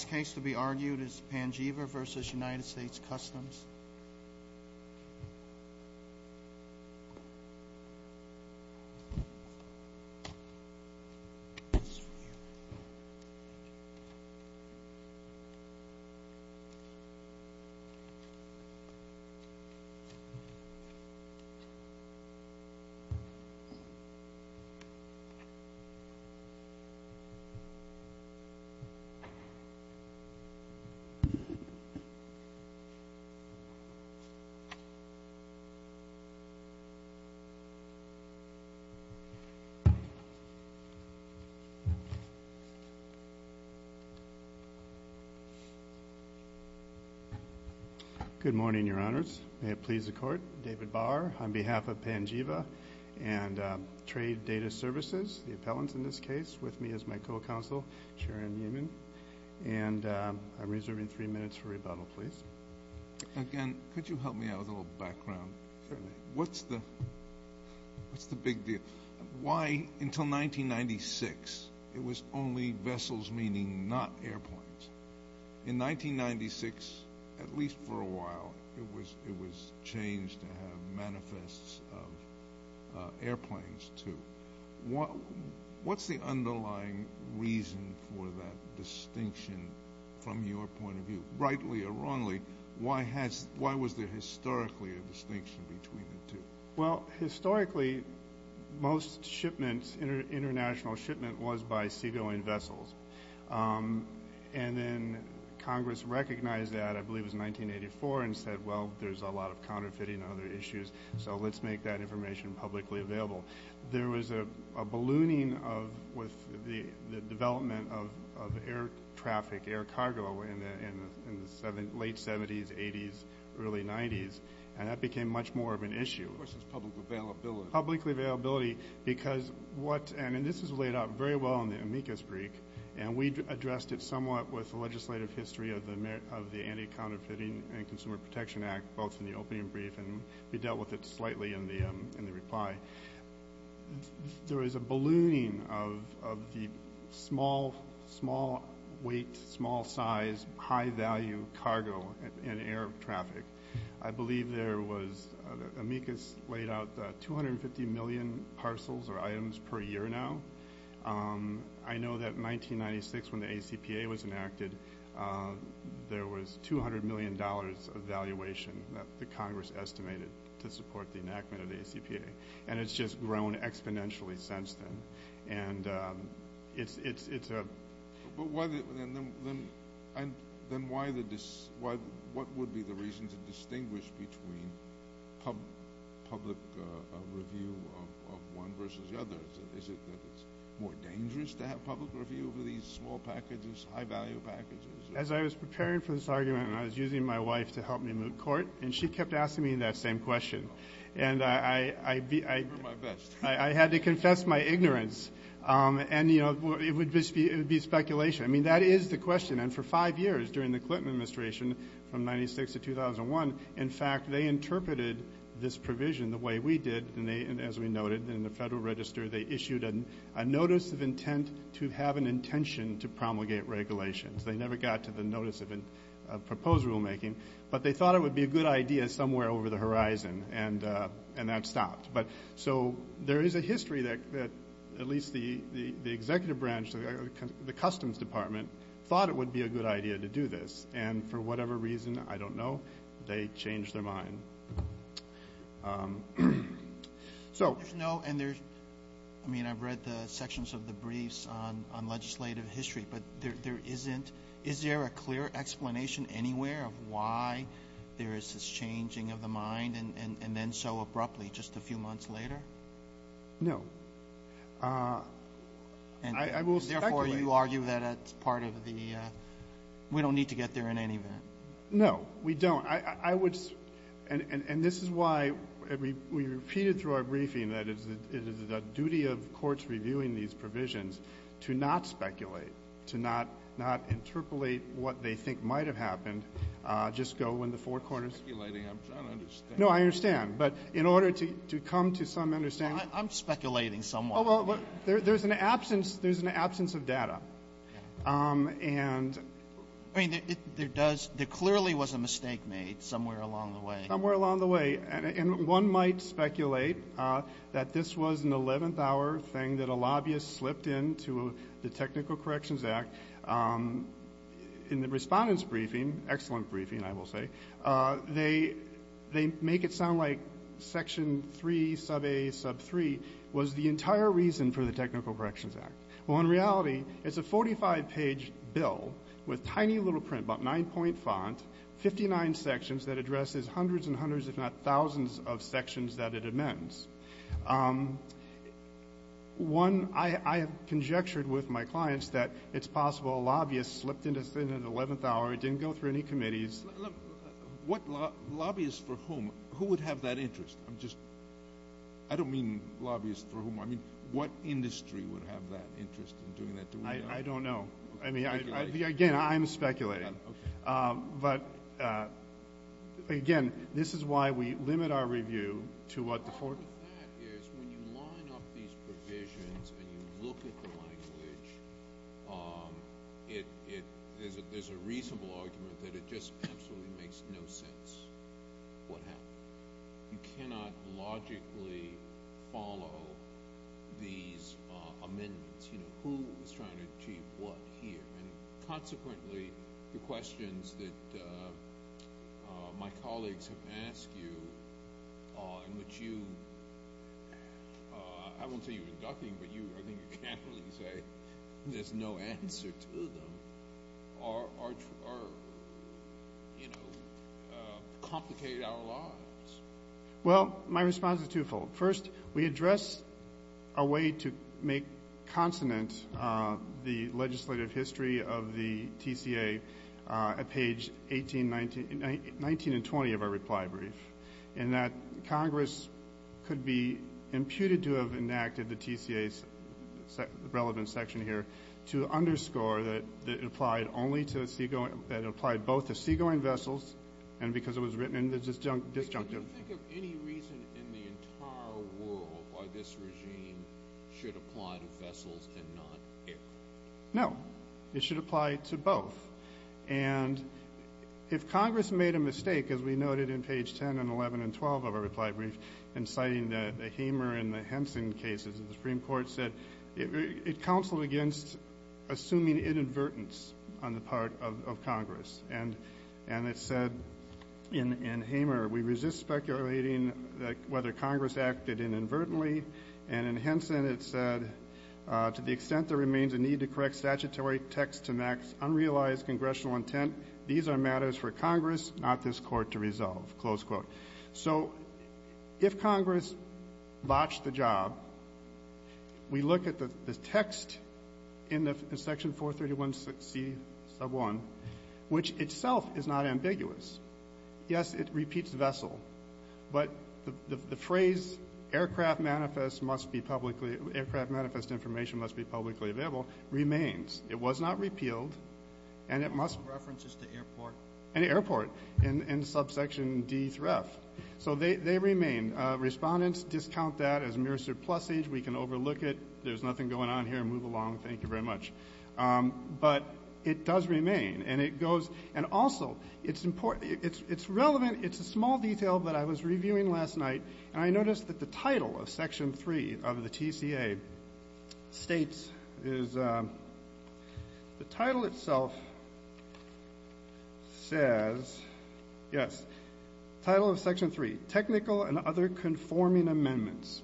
Customs. Good morning, Your Honors. May it please the Court, David Bauer on behalf of Panjiva and Trade Data Services, the appellants in this case. With me is my co-counsel, Sharon Yeaman, and I'm reserving three minutes for rebuttal, please. Again, could you help me out with a little background? What's the big deal? Why until 1996, it was only vessels, meaning not airplanes. In 1996, at least for a while, it was changed to have manifests of airplanes, too. What's the underlying reason for that distinction from your point of view, rightly or wrongly? Why was there historically a distinction between the two? Well, historically, most shipments, international shipment, was by seagoing vessels. And then Congress recognized that, I believe it was 1984, and said, well, there's a lot of counterfeiting and other issues, so let's make that information publicly available. There was a ballooning with the development of air traffic, air cargo, in the late 70s, 80s, early 90s, and that became much more of an issue. Of course, it's public availability. Public availability, because what, and this is laid out very well in the amicus brief, and we addressed it somewhat with the legislative history of the Anti-Counterfeiting and Consumer Protection Act, both in the opening brief, and we dealt with it slightly in the reply. There was a ballooning of the small weight, small size, high value cargo and air traffic. I believe there was, amicus laid out 250 million parcels or items per year now. I know that 1996, when the ACPA was enacted, there was $200 million of valuation that the Congress estimated to support the enactment of the ACPA. And it's just grown exponentially since then. And it's a... But why the, and then why the, what would be the reason to distinguish between public review of one versus the other? Is it that it's more dangerous to have public review over these small packages, high value packages? As I was preparing for this argument, and I was using my wife to help me moot court, and she kept asking me that same question. And I had to confess my ignorance. And, you know, it would be speculation. I mean, that is the question. And for five years during the Clinton administration, from 96 to 2001, in fact, they interpreted this provision the way we did. And as we noted, in the Federal Register, they issued a notice of intent to have an intention to promulgate regulations. They never got to the notice of proposed rulemaking. But they thought it would be a good idea somewhere over the horizon. And that stopped. But so there is a history that at least the executive branch, the customs department, thought it would be a good idea to do this. And for whatever reason, I don't know, they changed their mind. So no, and there's, I mean, I've read the sections of the briefs on legislative history, but there isn't, is there a clear explanation anywhere of why there is this changing of the mind and then so abruptly just a few months later? No. And I will speculate. Therefore, you argue that it's part of the, we don't need to get there in any event. No, we don't. I would, and this is why we repeated through our briefing that it is the duty of courts reviewing these provisions to not speculate, to not interpolate what they think might have happened, just go in the four corners. Speculating, I'm trying to understand. No, I understand. But in order to come to some understanding. I'm speculating somewhat. Oh, well, there's an absence, there's an absence of data. And I mean, there does, there clearly was a mistake made somewhere along the way. Somewhere along the way. And one might speculate that this was an 11th hour thing that a lobbyist slipped into the Technical Corrections Act in the respondent's briefing, excellent briefing, I will say, they, they make it sound like section three, sub a sub three was the entire reason for the Technical Corrections Act. Well, in reality, it's a 45 page bill with tiny little print, about nine point font, 59 sections that addresses hundreds and hundreds, if not thousands of sections that it amends. One, I, I have conjectured with my clients that it's possible a lobbyist slipped into, into the 11th hour. It didn't go through any committees. What lobbyist for whom, who would have that interest? I'm just, I don't mean lobbyists for whom. I mean, what industry would have that interest in doing that? I don't know. I mean, I, again, I'm speculating, but again, this is why we limit our review to what the court. Part of that is when you line up these provisions and you look at the language, it, it, there's a, there's a reasonable argument that it just absolutely makes no sense. What happened? You cannot logically follow these amendments. You know, who was trying to achieve what here? And consequently, the questions that my colleagues have asked you, in which you, I won't say you were ducking, but you, I think you can't really say there's no answer to them, or, or, you know, complicate our lives. Well, my response is twofold. First, we address a way to make consonant the legislative history of the TCA at page 18, 19, 19 and 20 of our reply brief, and that Congress could be imputed to have enacted the TCA's relevant section here to underscore that it applied only to seagoing, that it applied both to seagoing vessels and because it was written in the disjunctive. Can you think of any reason in the entire world why this regime should apply to vessels and not air? No, it should apply to both. And if Congress made a mistake, as we noted in page 10 and 11 and 12 of our passing cases, the Supreme Court said it counseled against assuming inadvertence on the part of Congress. And it said in Hamer, we resist speculating whether Congress acted inadvertently. And in Henson, it said, to the extent there remains a need to correct statutory text to max unrealized congressional intent, these are matters for Congress, not this Court to resolve, close quote. So if Congress botched the job, we look at the text in the section 431C sub 1, which itself is not ambiguous. Yes, it repeats vessel, but the phrase aircraft manifest must be publicly, aircraft manifest information must be publicly available, remains. It was not repealed and it must. References to airport. Any airport in subsection D3F. So they remain. Respondents discount that as mere surplusage. We can overlook it. There's nothing going on here. Move along. Thank you very much. But it does remain and it goes. And also it's important, it's relevant. It's a small detail, but I was reviewing last night and I noticed that the title of says, yes, title of section three, technical and other conforming amendments.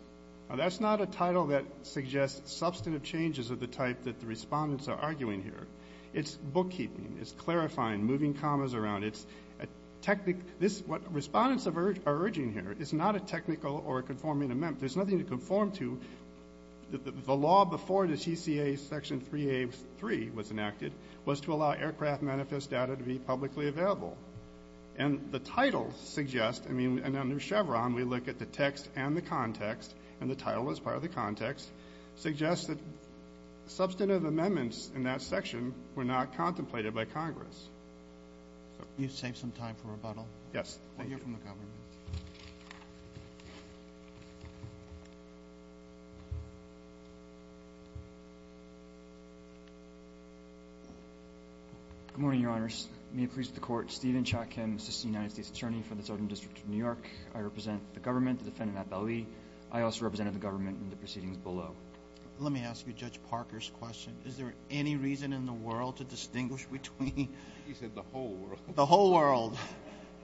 And that's not a title that suggests substantive changes of the type that the respondents are arguing here. It's bookkeeping, it's clarifying, moving commas around. It's a technical, this, what respondents are urging here is not a technical or conforming amendment. There's nothing to conform to. The law before the TCA section 3A3 was enacted was to allow aircraft manifest data to be publicly available. And the title suggests, I mean, and under Chevron, we look at the text and the context and the title as part of the context, suggests that substantive amendments in that section were not contemplated by Congress. You save some time for rebuttal. Yes. Thank you from the government. Good morning, your honors. May it please the court, Stephen Chotkin, assistant United States attorney for the Southern district of New York. I represent the government, the defendant, Matt Belli. I also represented the government in the proceedings below. Let me ask you judge Parker's question. Is there any reason in the world to distinguish between the whole world,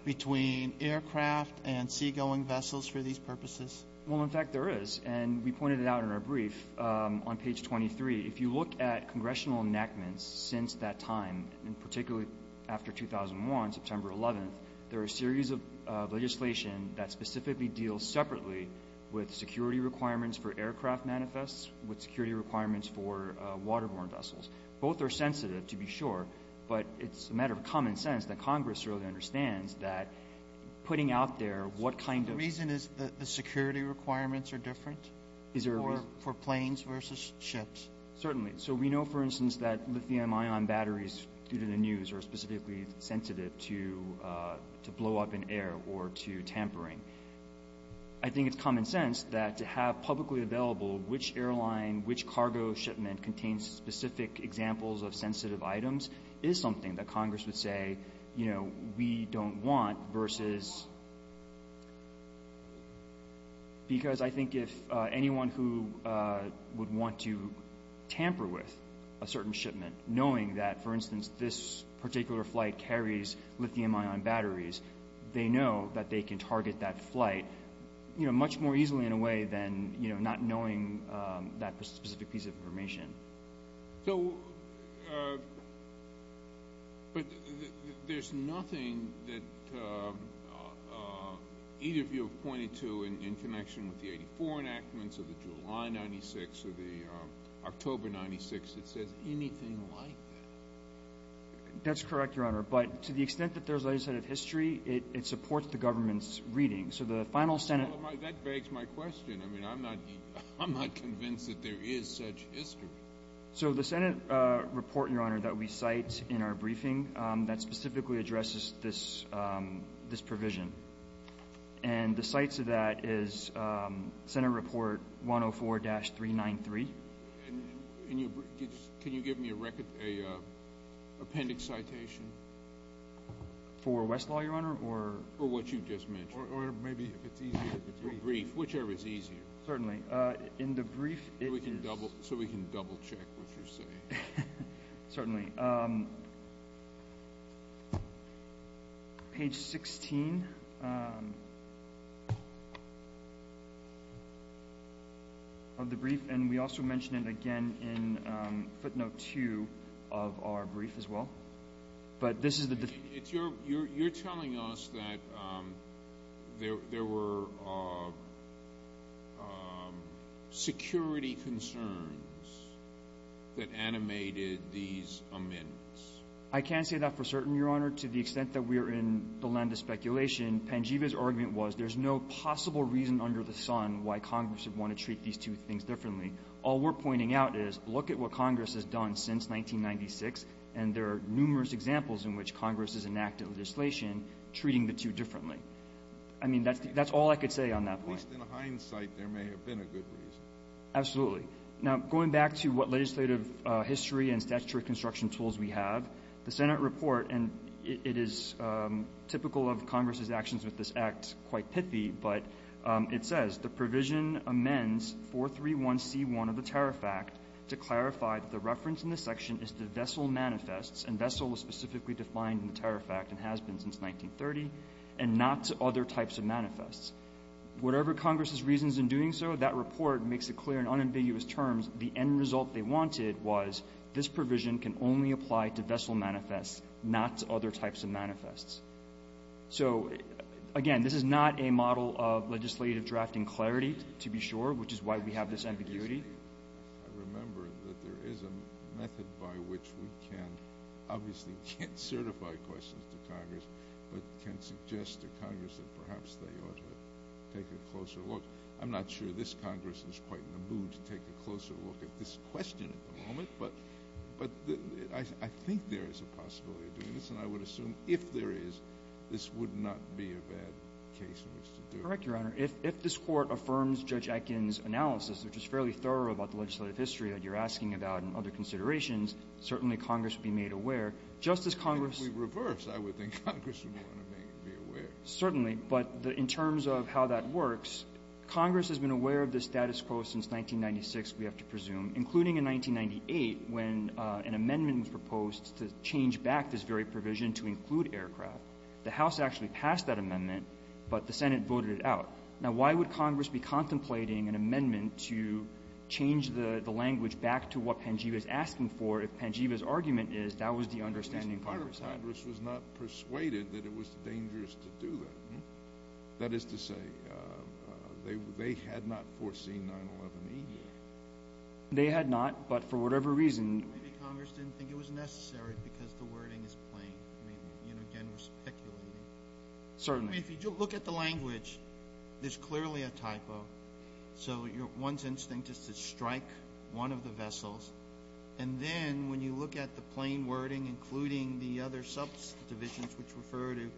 the aircraft and seagoing vessels for these purposes? Well, in fact, there is. And we pointed it out in our brief on page 23. If you look at congressional enactments since that time, and particularly after 2001, September 11th, there are a series of legislation that specifically deals separately with security requirements for aircraft manifests, with security requirements for waterborne vessels. Both are sensitive to be sure, but it's a matter of common sense that Congress necessarily understands that putting out there what kind of — The reason is that the security requirements are different? Is there a reason? For planes versus ships. Certainly. So we know, for instance, that lithium-ion batteries due to the news are specifically sensitive to blow up in air or to tampering. I think it's common sense that to have publicly available which airline, which cargo shipment contains specific examples of sensitive items is something that Congress would say, you know, we don't want versus — because I think if anyone who would want to tamper with a certain shipment, knowing that, for instance, this particular flight carries lithium-ion batteries, they know that they can target that flight, you know, much more easily in a way than, you know, not knowing that specific piece of information. So — but there's nothing that either of you have pointed to in connection with the 84 enactments or the July 96 or the October 96 that says anything like that. That's correct, Your Honor. But to the extent that there's a set of history, it supports the government's reading. So the final Senate — Well, that begs my question. I mean, I'm not — I'm not convinced that there is such history. So the Senate report, Your Honor, that we cite in our briefing, that specifically addresses this — this provision. And the cites of that is Senate Report 104-393. And can you give me a record — an appendix citation? For Westlaw, Your Honor, or — Or what you just mentioned. Or maybe if it's easier, if it's more brief. Whichever is easier. Certainly. In the brief, it is — So we can double — so we can double-check what you're saying. Certainly. Page 16 of the brief — and we also mention it again in footnote 2 of our brief as well. But this is the — It's your — you're telling us that there were security concerns that animated these amendments. I can say that for certain, Your Honor. To the extent that we are in the land of speculation, Pangeva's argument was there's no possible reason under the sun why Congress would want to treat these two things differently. All we're pointing out is, look at what Congress has done since 1996. And there are numerous examples in which Congress has enacted legislation treating the two differently. I mean, that's all I could say on that point. At least in hindsight, there may have been a good reason. Absolutely. Now, going back to what legislative history and statutory construction tools we have, the Senate report — and it is typical of Congress's actions with this Act, quite pithy — but it says, The provision amends 431c1 of the Tariff Act to clarify that the reference in this provision only applies to vessel manifests, and vessel was specifically defined in the Tariff Act and has been since 1930, and not to other types of manifests. Whatever Congress's reasons in doing so, that report makes it clear in unambiguous terms the end result they wanted was this provision can only apply to vessel manifests, not to other types of manifests. So, again, this is not a model of legislative drafting clarity, to be sure, which is why we have this ambiguity. I remember that there is a method by which we can — obviously, we can't certify questions to Congress, but can suggest to Congress that perhaps they ought to take a closer look. I'm not sure this Congress is quite in the mood to take a closer look at this question at the moment, but I think there is a possibility of doing this, and I would assume if there is, this would not be a bad case in which to do it. Correct, Your Honor. If this Court affirms Judge Atkin's analysis, which is fairly thorough about the legislative history that you're asking about and other considerations, certainly Congress would be made aware. Just as Congress — If we reverse, I would think Congress would want to be aware. Certainly. But in terms of how that works, Congress has been aware of this status quo since 1996, we have to presume, including in 1998 when an amendment was proposed to change back this very provision to include aircraft. The House actually passed that amendment, but the Senate voted it out. Now, why would Congress be contemplating an amendment to change the language back to what Pangeva is asking for if Pangeva's argument is that was the understanding Congress had? At least part of Congress was not persuaded that it was dangerous to do that. That is to say, they had not foreseen 9-11 media. They had not, but for whatever reason — Maybe Congress didn't think it was necessary because the wording is plain. I mean, again, we're speculating. Certainly. If you look at the language, there's clearly a typo. So one's instinct is to strike one of the vessels. And then when you look at the plain wording, including the other subdivisions which refer to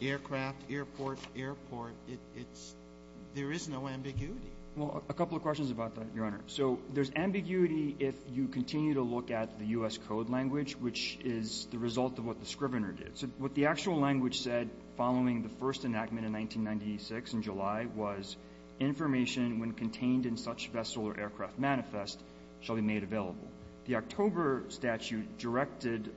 aircraft, airport, airport, it's — there is no ambiguity. Well, a couple of questions about that, Your Honor. So there's ambiguity if you continue to look at the U.S. Code language, which is the result of what the Scrivener did. What the actual language said following the first enactment in 1996, in July, was information when contained in such vessel or aircraft manifest shall be made available. The October statute directed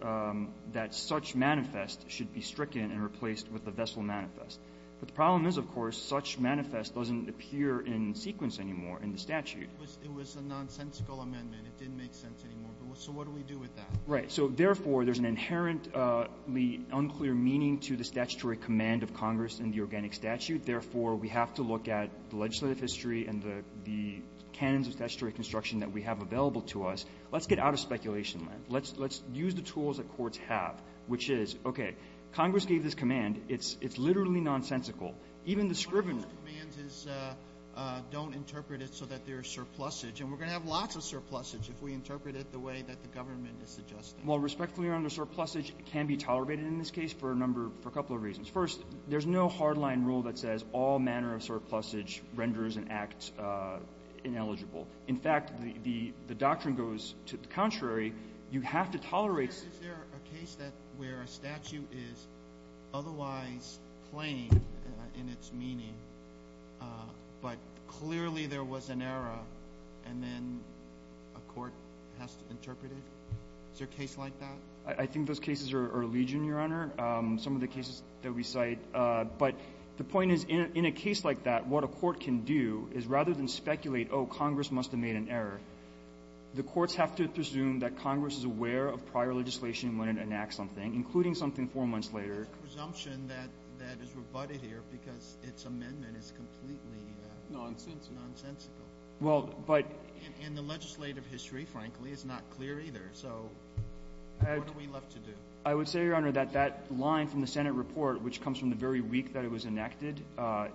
that such manifest should be stricken and replaced with a vessel manifest. But the problem is, of course, such manifest doesn't appear in sequence anymore in the statute. It was a nonsensical amendment. It didn't make sense anymore. So what do we do with that? Right. Therefore, there's an inherently unclear meaning to the statutory command of Congress in the organic statute. Therefore, we have to look at the legislative history and the canons of statutory construction that we have available to us. Let's get out of speculation. Let's use the tools that courts have, which is, okay, Congress gave this command. It's literally nonsensical. Even the Scrivener — Those commands don't interpret it so that there's surplusage. And we're going to have lots of surplusage if we interpret it the way that the government is suggesting. Well, respectfully, under surplusage, it can be tolerated in this case for a number — for a couple of reasons. First, there's no hardline rule that says all manner of surplusage renders an act ineligible. In fact, the doctrine goes to the contrary. You have to tolerate — Is there a case that — where a statute is otherwise plain in its meaning, but clearly there was an error, and then a court has to interpret it? Is there a case like that? I think those cases are legion, Your Honor, some of the cases that we cite. But the point is, in a case like that, what a court can do is, rather than speculate, oh, Congress must have made an error, the courts have to presume that Congress is aware of prior legislation when it enacts something, including something four months later. It's a presumption that is rebutted here because its amendment is completely nonsensical. Nonsensical. Well, but — And the legislative history, frankly, is not clear either. So what are we left to do? I would say, Your Honor, that that line from the Senate report, which comes from the very week that it was enacted,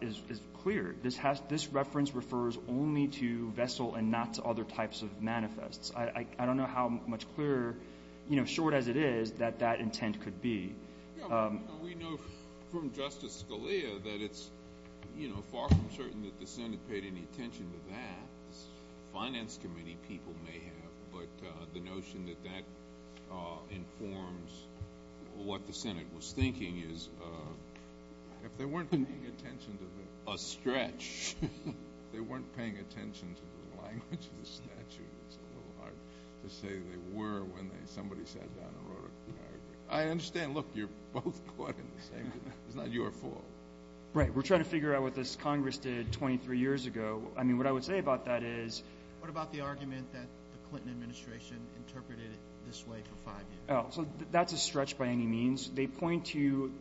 is clear. This reference refers only to vessel and not to other types of manifests. I don't know how much clearer — you know, short as it is — that that intent could be. We know from Justice Scalia that it's, you know, far from certain that the Senate paid any attention to that. Finance committee people may have, but the notion that that informs what the Senate was thinking is, if they weren't paying attention to the — A stretch. — if they weren't paying attention to the language of the statute, it's a little hard to say they were when somebody sat down and wrote a — I understand, look, you're both caught in the same thing. It's not your fault. Right. We're trying to figure out what this Congress did 23 years ago. I mean, what I would say about that is — What about the argument that the Clinton administration interpreted it this way for five years? So that's a stretch by any means. They point to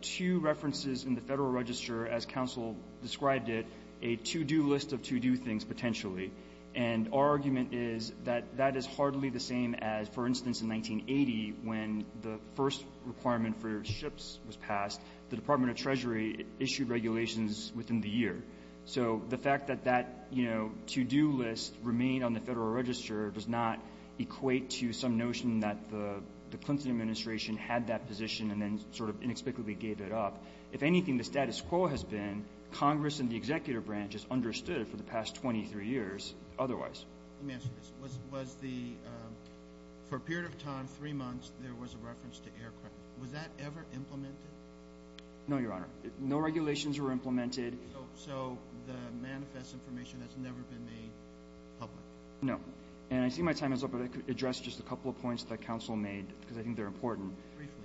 two references in the Federal Register, as counsel described it, a to-do list of to-do things, potentially. And our argument is that that is hardly the same as, for instance, in 1980, when the first requirement for ships was passed, the Department of Treasury issued regulations within the year. So the fact that that to-do list remained on the Federal Register does not equate to some notion that the Clinton administration had that position and then sort of inexplicably gave it up. If anything, the status quo has been Congress and the executive branch has understood for the past 23 years otherwise. Let me ask you this. Was the — for a period of time, three months, there was a reference to aircraft. Was that ever implemented? No, Your Honor. No regulations were implemented. So the manifest information has never been made public? No. And I see my time is up, but I could address just a couple of points that counsel made, because I think they're important. Briefly.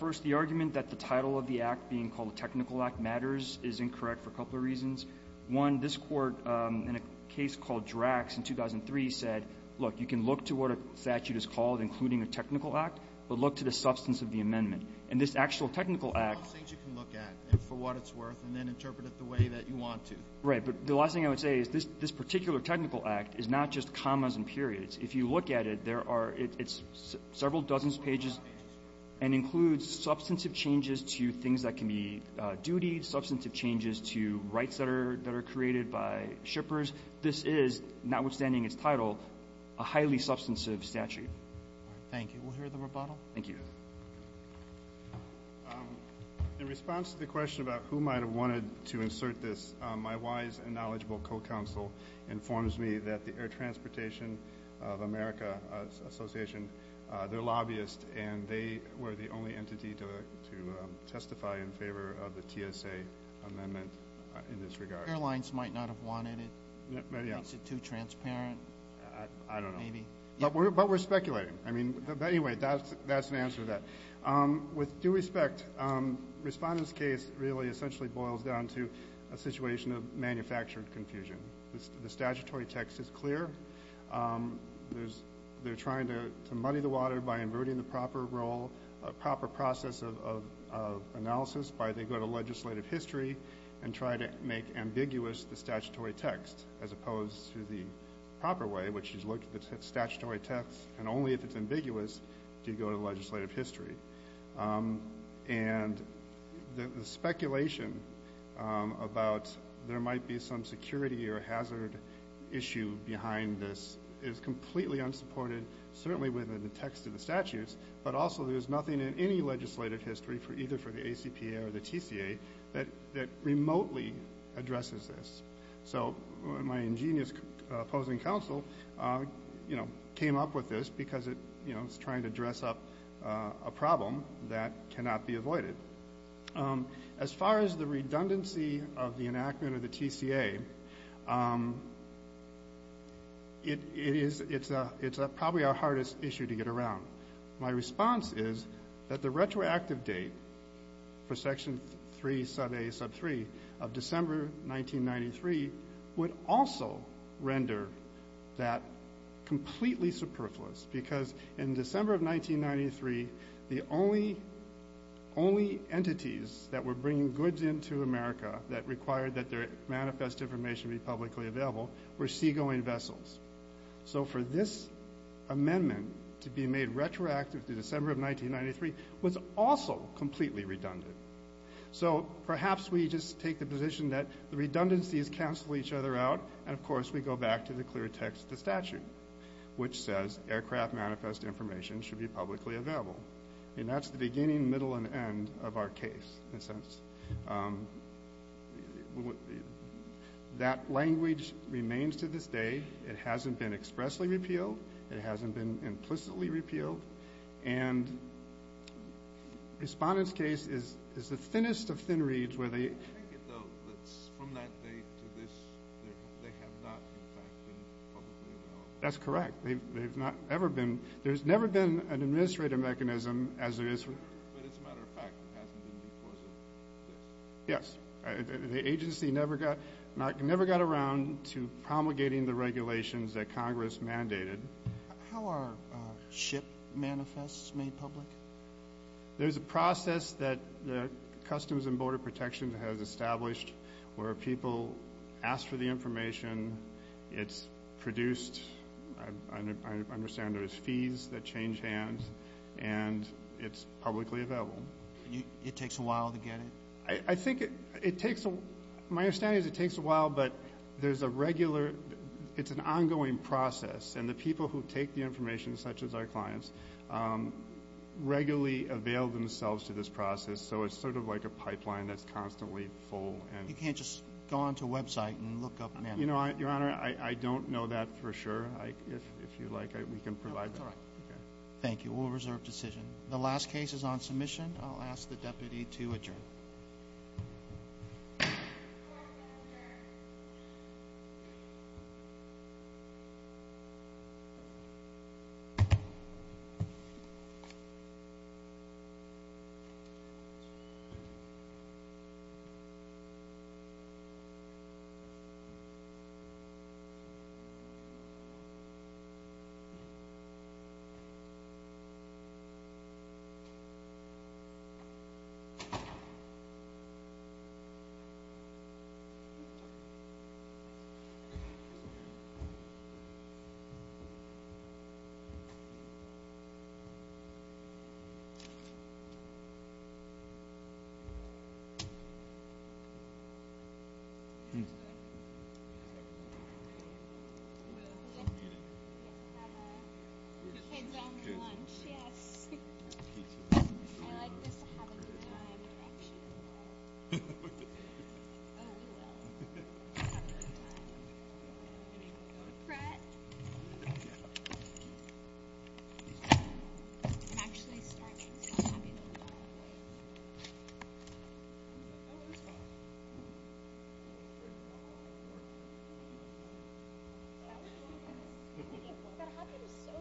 First, the argument that the title of the act being called a technical act matters is incorrect for a couple of reasons. One, this Court, in a case called Drax in 2003, said, look, you can look to what a statute is called, including a technical act, but look to the substance of the amendment. And this actual technical act — Right. But the last thing I would say is this particular technical act is not just commas and periods. If you look at it, there are — it's several dozen pages and includes substantive changes to things that can be duty, substantive changes to rights that are created by shippers. This is, notwithstanding its title, a highly substantive statute. All right. Thank you. We'll hear the rebuttal. Thank you. In response to the question about who might have wanted to insert this, my wise and knowledgeable co-counsel informs me that the Air Transportation of America Association, they're lobbyists, and they were the only entity to testify in favor of the TSA amendment in this regard. Airlines might not have wanted it. Maybe, yes. Is it too transparent? I don't know. Maybe. But we're speculating. I mean, anyway, that's an answer to that. With due respect, Respondent's case really essentially boils down to a situation of manufactured confusion. The statutory text is clear. They're trying to muddy the water by inverting the proper role, proper process of analysis by — they go to legislative history and try to make ambiguous the statutory text, as opposed to the proper way, which is look at the statutory text and only at ambiguous do you go to legislative history. And the speculation about there might be some security or hazard issue behind this is completely unsupported, certainly within the text of the statutes, but also there's nothing in any legislative history, either for the ACPA or the TCA, that remotely addresses this. So my ingenious opposing counsel, you know, came up with this because, you know, it's trying to dress up a problem that cannot be avoided. As far as the redundancy of the enactment of the TCA, it is — it's probably our hardest issue to get around. My response is that the retroactive date for Section 3, sub a, sub 3, of December 1993 would also render that completely superfluous because in December of 1993, the only entities that were bringing goods into America that required that their manifest information be publicly available were seagoing vessels. So for this amendment to be made retroactive to December of 1993 was also completely redundant. So perhaps we just take the position that the redundancies cancel each other out and, of course, we go back to the clear text of the statute, which says aircraft manifest information should be publicly available. And that's the beginning, middle, and end of our case, in a sense. That language remains to this day. It hasn't been expressly repealed. It hasn't been implicitly repealed. And Respondent's case is the thinnest of thin reeds where they — I get the — from that date to this, they have not, in fact, been publicly available. That's correct. They've not ever been — there's never been an administrative mechanism as there is — but as a matter of fact, it hasn't been because of this. Yes. The agency never got around to promulgating the regulations that Congress mandated. How are ship manifests made public? There's a process that Customs and Border Protection has established where people ask for the information, it's produced — I understand there's fees that change hands and it's publicly available. It takes a while to get it? I think it takes — my understanding is it takes a while, but there's a regular — it's an ongoing process. And the people who take the information, such as our clients, regularly avail themselves to this process. So it's sort of like a pipeline that's constantly full and — You can't just go onto a website and look up — You know, Your Honor, I don't know that for sure. If you like, we can provide that. That's all right. Thank you. Thank you, Your Honor. Thank you. Yes. I like this, to have a good time. Actually. Oh, well. Have a good time. Brett? I'm actually starving, so I'm going to be a little quiet. Oh, it was fine. That happened so